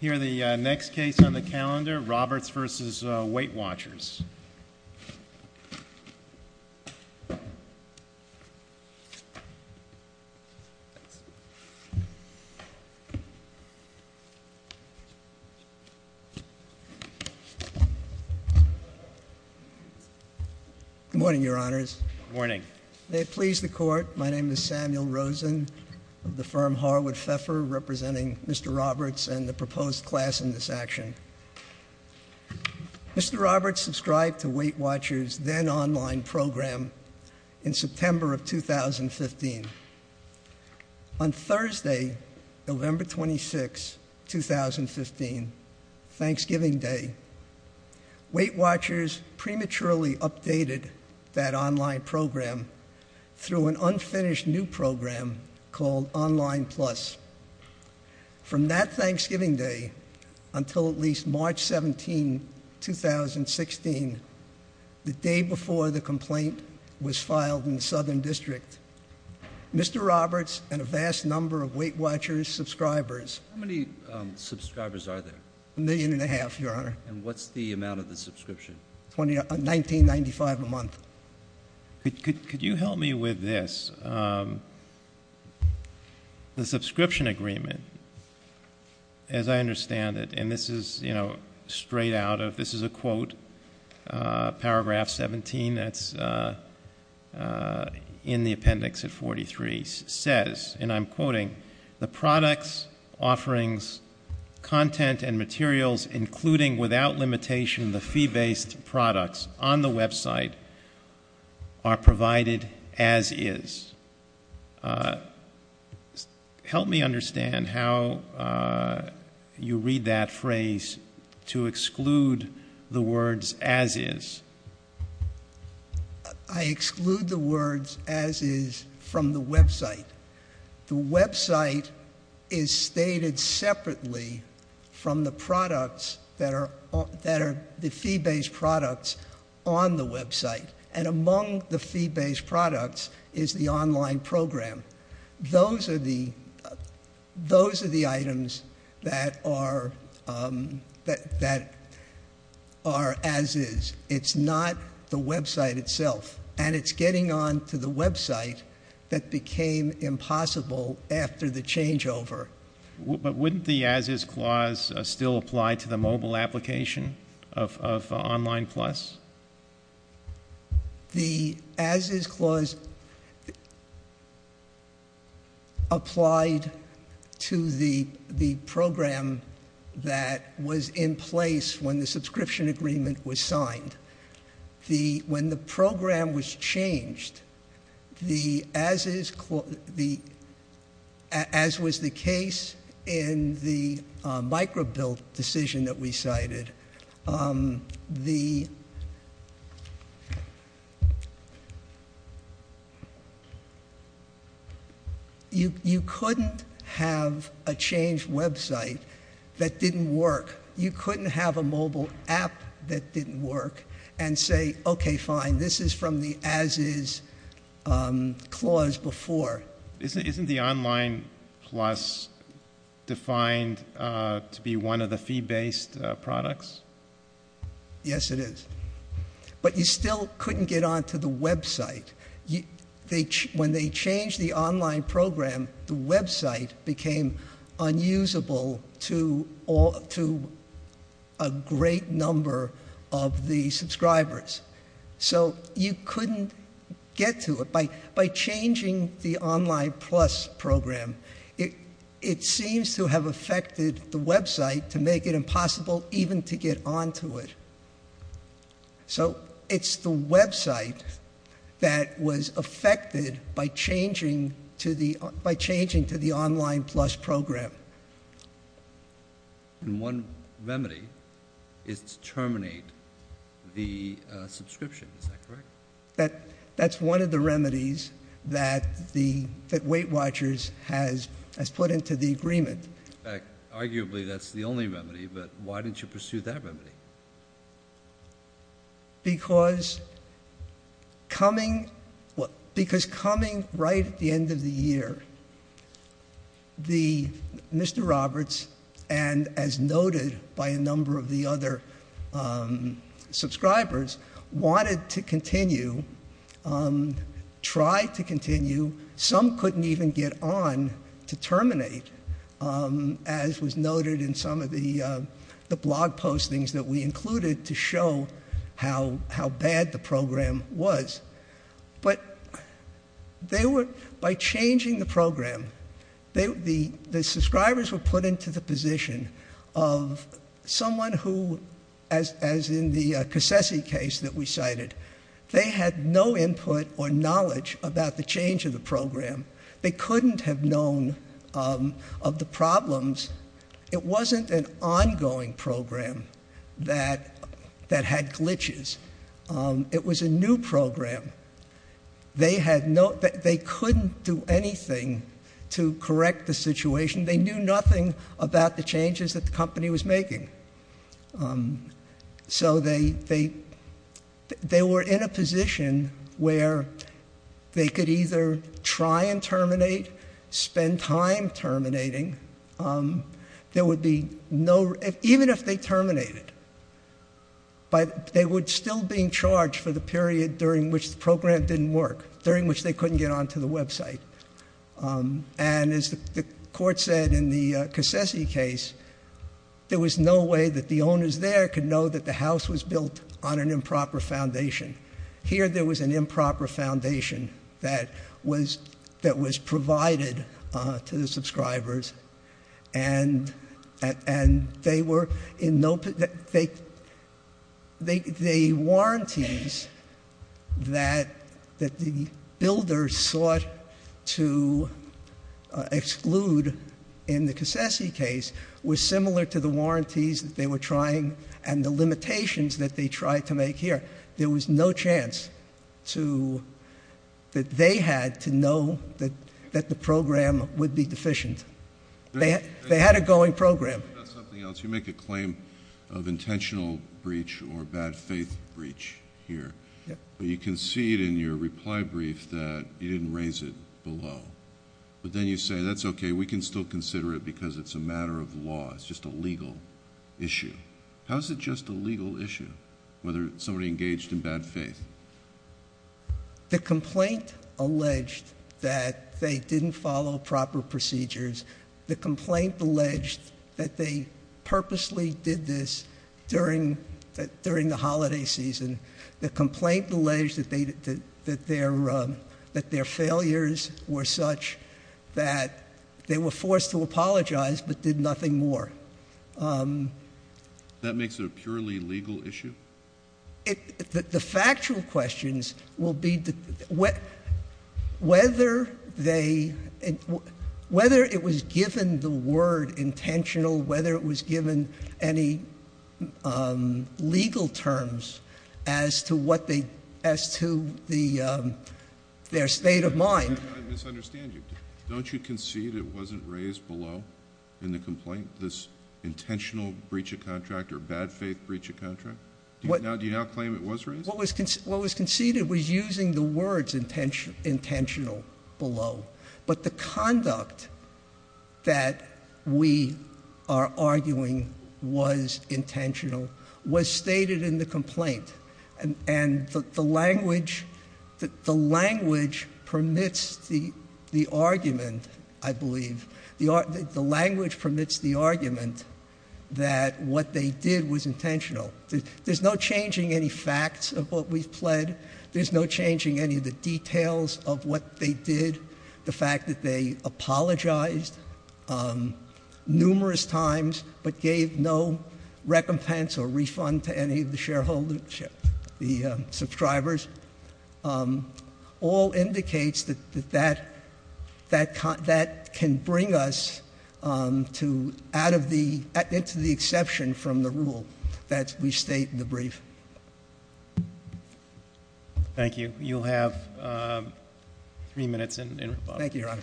Here are the next case on the calendar, Roberts v. Weight Watchers. Good morning, Your Honors. Good morning. May it please the Court, my name is Samuel Rosen of the firm Harwood Pfeffer, representing Mr. Roberts and the proposed class in this action. Mr. Roberts subscribed to Weight Watchers' then-online program in September of 2015. On Thursday, November 26, 2015, Thanksgiving Day, Weight Watchers prematurely updated that online program through an unfinished new program called Online Plus. From that Thanksgiving Day until at least March 17, 2016, the day before the complaint was filed in the Southern District, Mr. Roberts and a vast number of Weight Watchers subscribers How many subscribers are there? A million and a half, Your Honor. And what's the amount of the subscription? $19.95 a month. Could you help me with this? The subscription agreement, as I understand it, and this is straight out of, this is a quote, paragraph 17, that's in the appendix at 43, says, and I'm quoting, the products, offerings, content, and materials, including, without limitation, the fee-based products on the website are provided as is. Help me understand how you read that phrase to exclude the words as is. I exclude the words as is from the website. The website is stated separately from the products that are the fee-based products on the website. And among the fee-based products is the online program. Those are the items that are as is. It's not the website itself. And it's getting on to the website that became impossible after the changeover. But wouldn't the as is clause still apply to the mobile application of Online Plus? The as is clause applied to the program that was in place when the subscription agreement was signed. When the program was changed, as was the case in the micro-bill decision that we cited, you couldn't have a changed website that didn't work. You couldn't have a mobile app that didn't work and say, okay, fine, this is from the as is clause before. Isn't the Online Plus defined to be one of the fee-based products? Yes, it is. But you still couldn't get on to the website. When they changed the online program, the website became unusable to a great number of the subscribers. So you couldn't get to it. By changing the Online Plus program, it seems to have affected the website to make it impossible even to get on to it. So it's the website that was affected by changing to the Online Plus program. And one remedy is to terminate the subscription. Is that correct? That's one of the remedies that Weight Watchers has put into the agreement. Arguably, that's the only remedy. But why didn't you pursue that remedy? Because coming right at the end of the year, Mr. Roberts and, as noted by a number of the other subscribers, wanted to continue, tried to continue. Some couldn't even get on to terminate, as was noted in some of the blog postings that we included to show how bad the program was. But by changing the program, the subscribers were put into the position of someone who, as in the Cassese case that we cited, they had no input or knowledge about the change of the program. They couldn't have known of the problems. It wasn't an ongoing program that had glitches. It was a new program. They couldn't do anything to correct the situation. They knew nothing about the changes that the company was making. So they were in a position where they could either try and terminate, spend time terminating. There would be no—even if they terminated, they would still be charged for the period during which the program didn't work, during which they couldn't get onto the website. And as the Court said in the Cassese case, there was no way that the owners there could know that the house was built on an improper foundation. Here there was an improper foundation that was provided to the subscribers. The warranties that the builders sought to exclude in the Cassese case were similar to the warranties that they were trying and the limitations that they tried to make here. There was no chance that they had to know that the program would be deficient. They had a going program. You make a claim of intentional breach or bad faith breach here. You concede in your reply brief that you didn't raise it below. But then you say, that's okay, we can still consider it because it's a matter of law. It's just a legal issue. How is it just a legal issue whether somebody engaged in bad faith? The complaint alleged that they didn't follow proper procedures. The complaint alleged that they purposely did this during the holiday season. The complaint alleged that their failures were such that they were forced to apologize but did nothing more. That makes it a purely legal issue? The factual questions will be whether it was given the word intentional, whether it was given any legal terms as to their state of mind. I misunderstand you. Don't you concede it wasn't raised below in the complaint, this intentional breach of contract or bad faith breach of contract? Do you now claim it was raised? What was conceded was using the words intentional below. But the conduct that we are arguing was intentional was stated in the complaint. And the language permits the argument, I believe. The language permits the argument that what they did was intentional. There's no changing any facts of what we've pled. There's no changing any of the details of what they did. The fact that they apologized numerous times but gave no recompense or refund to any of the subscribers. All indicates that that can bring us into the exception from the rule that we state in the brief. Thank you. You'll have three minutes in response. Thank you, Your Honor.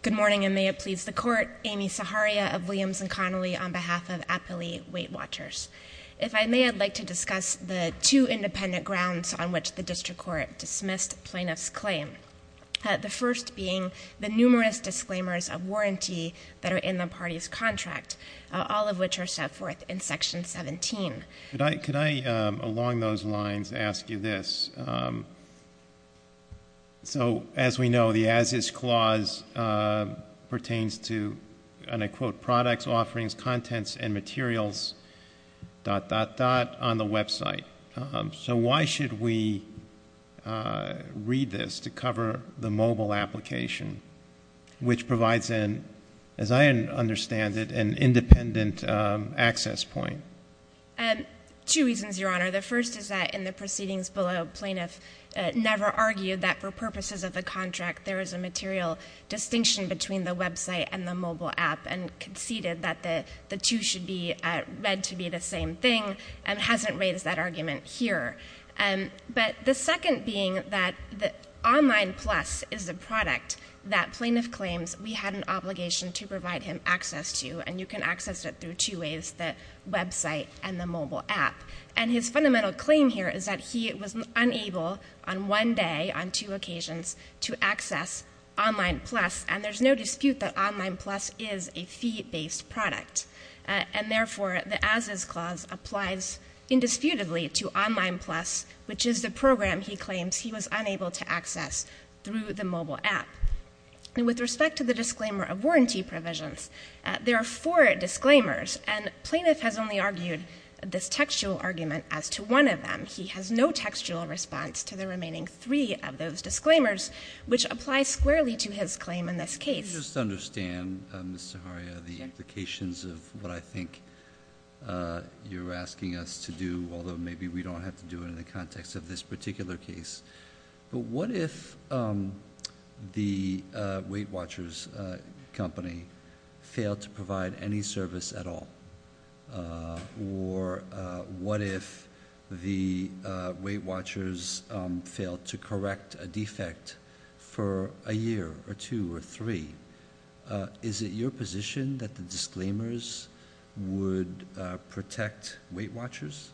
Good morning, and may it please the court. Amy Saharia of Williams and Connolly on behalf of Appley Weight Watchers. If I may, I'd like to discuss the two independent grounds on which the district court dismissed plaintiff's claim. The first being the numerous disclaimers of warranty that are in the party's contract, all of which are set forth in Section 17. Could I, along those lines, ask you this? So, as we know, the As Is Clause pertains to, and I quote, products, offerings, contents, and materials, dot, dot, dot, on the website. So why should we read this to cover the mobile application, which provides an, as I understand it, an independent access point? Two reasons, Your Honor. The first is that in the proceedings below, plaintiff never argued that for purposes of the contract, there is a material distinction between the website and the mobile app and conceded that the two should be read to be the same thing and hasn't raised that argument here. But the second being that Online Plus is a product that plaintiff claims we had an obligation to provide him access to, and you can access it through two ways, the website and the mobile app. And his fundamental claim here is that he was unable on one day, on two occasions, to access Online Plus, and there's no dispute that Online Plus is a fee-based product. And therefore, the As Is Clause applies indisputably to Online Plus, which is the program he claims he was unable to access through the mobile app. And with respect to the disclaimer of warranty provisions, there are four disclaimers, and plaintiff has only argued this textual argument as to one of them. He has no textual response to the remaining three of those disclaimers, which apply squarely to his claim in this case. Let me just understand, Ms. Zaharia, the implications of what I think you're asking us to do, although maybe we don't have to do it in the context of this particular case. But what if the Weight Watchers company failed to provide any service at all? Or what if the Weight Watchers failed to correct a defect for a year or two or three? Is it your position that the disclaimers would protect Weight Watchers?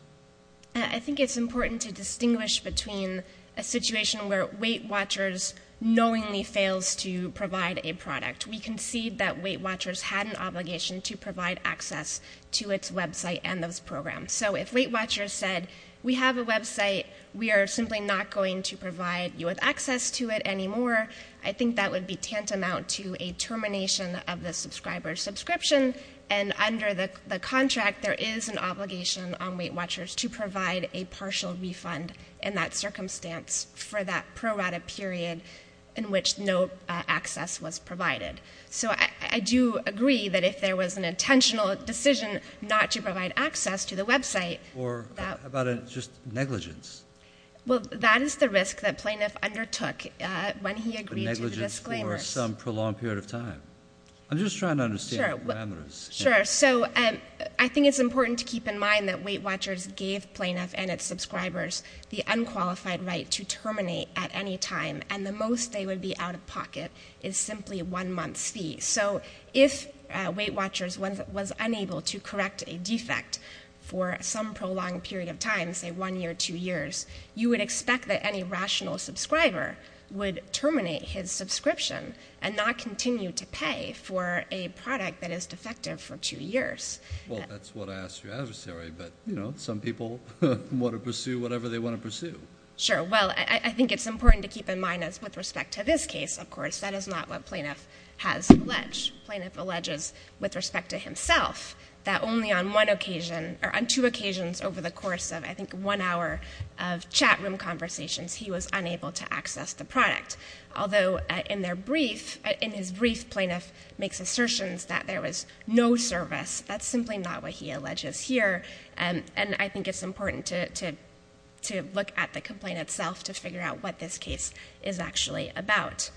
I think it's important to distinguish between a situation where Weight Watchers knowingly fails to provide a product. We concede that Weight Watchers had an obligation to provide access to its website and those programs. So if Weight Watchers said, we have a website, we are simply not going to provide you with access to it anymore, I think that would be tantamount to a termination of the subscriber subscription, and under the contract there is an obligation on Weight Watchers to provide a partial refund in that circumstance for that pro-rata period in which no access was provided. So I do agree that if there was an intentional decision not to provide access to the website — Or how about just negligence? Well, that is the risk that Plaintiff undertook when he agreed to the disclaimers. Negligence for some prolonged period of time. I'm just trying to understand the parameters. Sure. So I think it's important to keep in mind that Weight Watchers gave Plaintiff and its subscribers the unqualified right to terminate at any time, and the most they would be out of pocket is simply one month's fee. So if Weight Watchers was unable to correct a defect for some prolonged period of time, say one year, two years, you would expect that any rational subscriber would terminate his subscription and not continue to pay for a product that is defective for two years. Well, that's what I ask your adversary, but, you know, some people want to pursue whatever they want to pursue. Sure. Well, I think it's important to keep in mind that with respect to this case, of course, that is not what Plaintiff has alleged. Plaintiff alleges with respect to himself that only on one occasion, or on two occasions over the course of, I think, one hour of chatroom conversations, he was unable to access the product. Although in their brief, in his brief, Plaintiff makes assertions that there was no service. That's simply not what he alleges here, and I think it's important to look at the complaint itself to figure out what this case is actually about.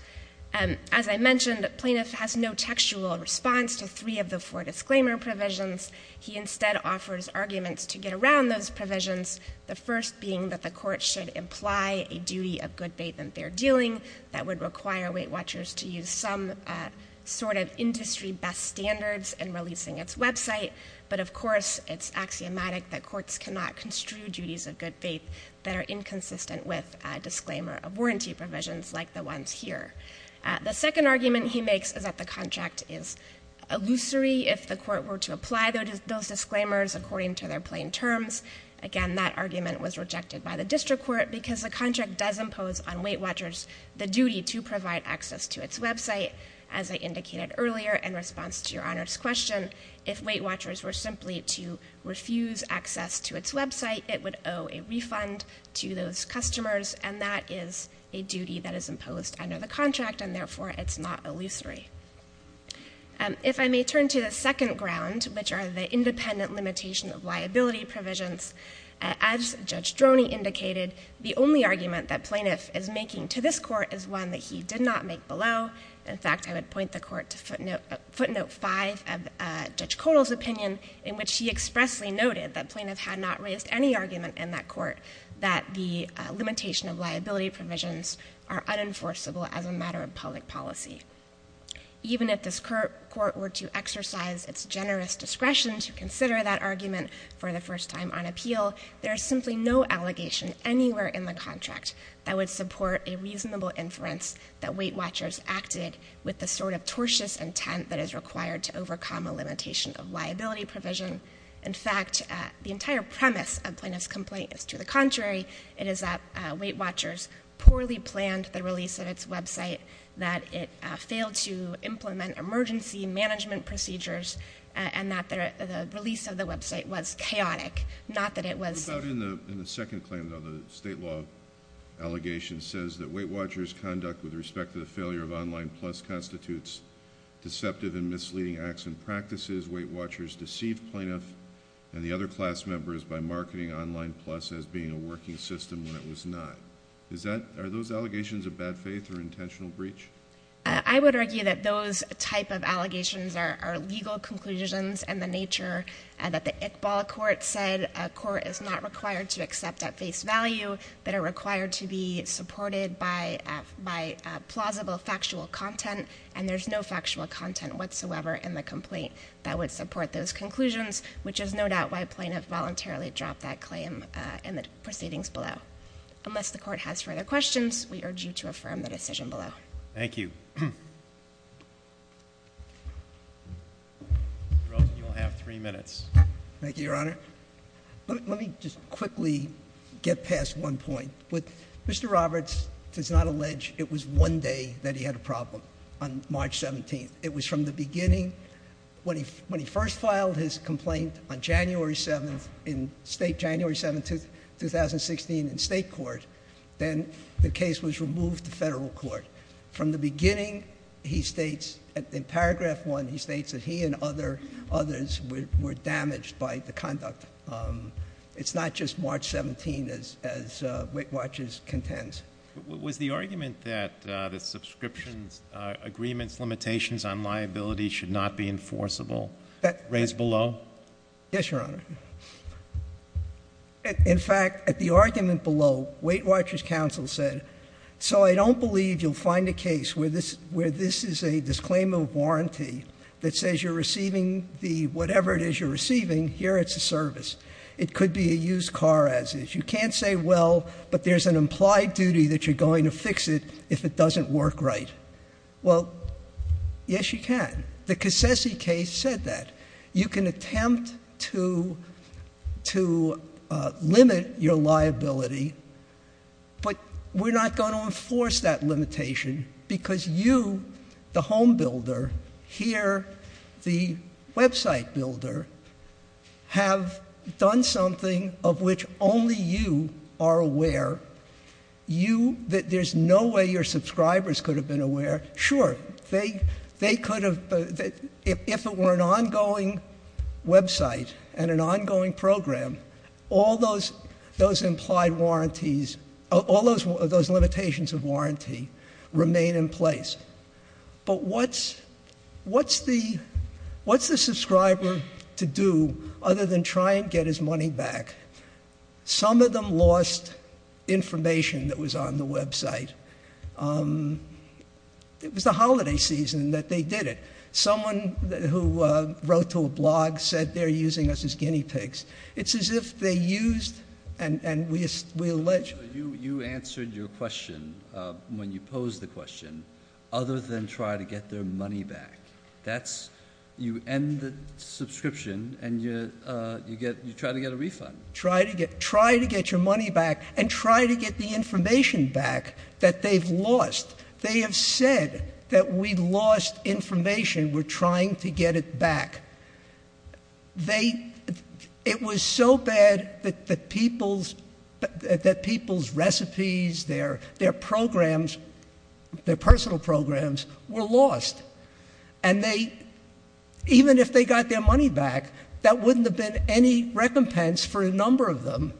As I mentioned, Plaintiff has no textual response to three of the four disclaimer provisions. He instead offers arguments to get around those provisions, the first being that the court should imply a duty of good faith in their dealing that would require Weight Watchers to use some sort of industry best standards in releasing its website. But, of course, it's axiomatic that courts cannot construe duties of good faith that are inconsistent with disclaimer of warranty provisions like the ones here. The second argument he makes is that the contract is illusory if the court were to apply those disclaimers according to their plain terms. Again, that argument was rejected by the district court because the contract does impose on Weight Watchers the duty to provide access to its website. As I indicated earlier in response to Your Honor's question, if Weight Watchers were simply to refuse access to its website, it would owe a refund to those customers, and that is a duty that is imposed under the contract, and therefore it's not illusory. If I may turn to the second ground, which are the independent limitation of liability provisions, as Judge Droney indicated, the only argument that Plaintiff is making to this court is one that he did not make below. In fact, I would point the court to footnote 5 of Judge Kotal's opinion in which he expressly noted that Plaintiff had not raised any argument in that court that the limitation of liability provisions are unenforceable as a matter of public policy. Even if this court were to exercise its generous discretion to consider that argument for the first time on appeal, there is simply no allegation anywhere in the contract that would support a reasonable inference that Weight Watchers acted with the sort of tortious intent that is required to overcome a limitation of liability provision. In fact, the entire premise of Plaintiff's complaint is to the contrary. It is that Weight Watchers poorly planned the release of its website, that it failed to implement emergency management procedures, and that the release of the website was chaotic, not that it was safe. In the second claim though, the state law allegation says that Weight Watchers' conduct with respect to the failure of Online Plus constitutes deceptive and misleading acts and practices. Weight Watchers deceived Plaintiff and the other class members by marketing Online Plus as being a working system when it was not. Are those allegations of bad faith or intentional breach? I would argue that those type of allegations are legal conclusions and the nature that the Iqbal Court said a court is not required to accept at face value, that are required to be supported by plausible factual content, and there's no factual content whatsoever in the complaint that would support those conclusions, which is no doubt why Plaintiff voluntarily dropped that claim in the proceedings below. Unless the Court has further questions, we urge you to affirm the decision below. Thank you. Mr. Rosen, you will have three minutes. Thank you, Your Honor. Let me just quickly get past one point. Mr. Roberts does not allege it was one day that he had a problem on March 17th. It was from the beginning. When he first filed his complaint on January 7th in state, January 7th, 2016, in state court, then the case was removed to federal court. From the beginning, he states in paragraph one, he states that he and others were damaged by the conduct. It's not just March 17th as Weight Watchers contends. Was the argument that the subscriptions agreements limitations on liability should not be enforceable raised below? Yes, Your Honor. In fact, at the argument below, Weight Watchers counsel said, so I don't believe you'll find a case where this is a disclaimer of warranty that says you're receiving the whatever it is you're receiving, here it's a service. It could be a used car as is. You can't say, well, but there's an implied duty that you're going to fix it if it doesn't work right. Well, yes, you can. The Cassessi case said that. You can attempt to limit your liability, but we're not going to enforce that limitation because you, the home builder, here the website builder, have done something of which only you are aware. There's no way your subscribers could have been aware. Sure, they could have, if it were an ongoing website and an ongoing program, all those implied warranties, all those limitations of warranty remain in place. But what's the subscriber to do other than try and get his money back? Some of them lost information that was on the website. It was the holiday season that they did it. Someone who wrote to a blog said they're using us as guinea pigs. It's as if they used, and we allege- You answered your question when you posed the question, other than try to get their money back. That's, you end the subscription and you try to get a refund. Try to get your money back and try to get the information back that they've lost. They have said that we lost information, we're trying to get it back. It was so bad that people's recipes, their programs, their personal programs were lost. And even if they got their money back, that wouldn't have been any recompense for a number of them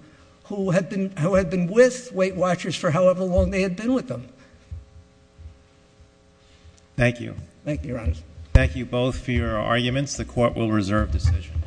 who had been with Weight Watchers for however long they had been with them. Thank you. Thank you, Your Honor. Thank you both for your arguments. The court will reserve decision.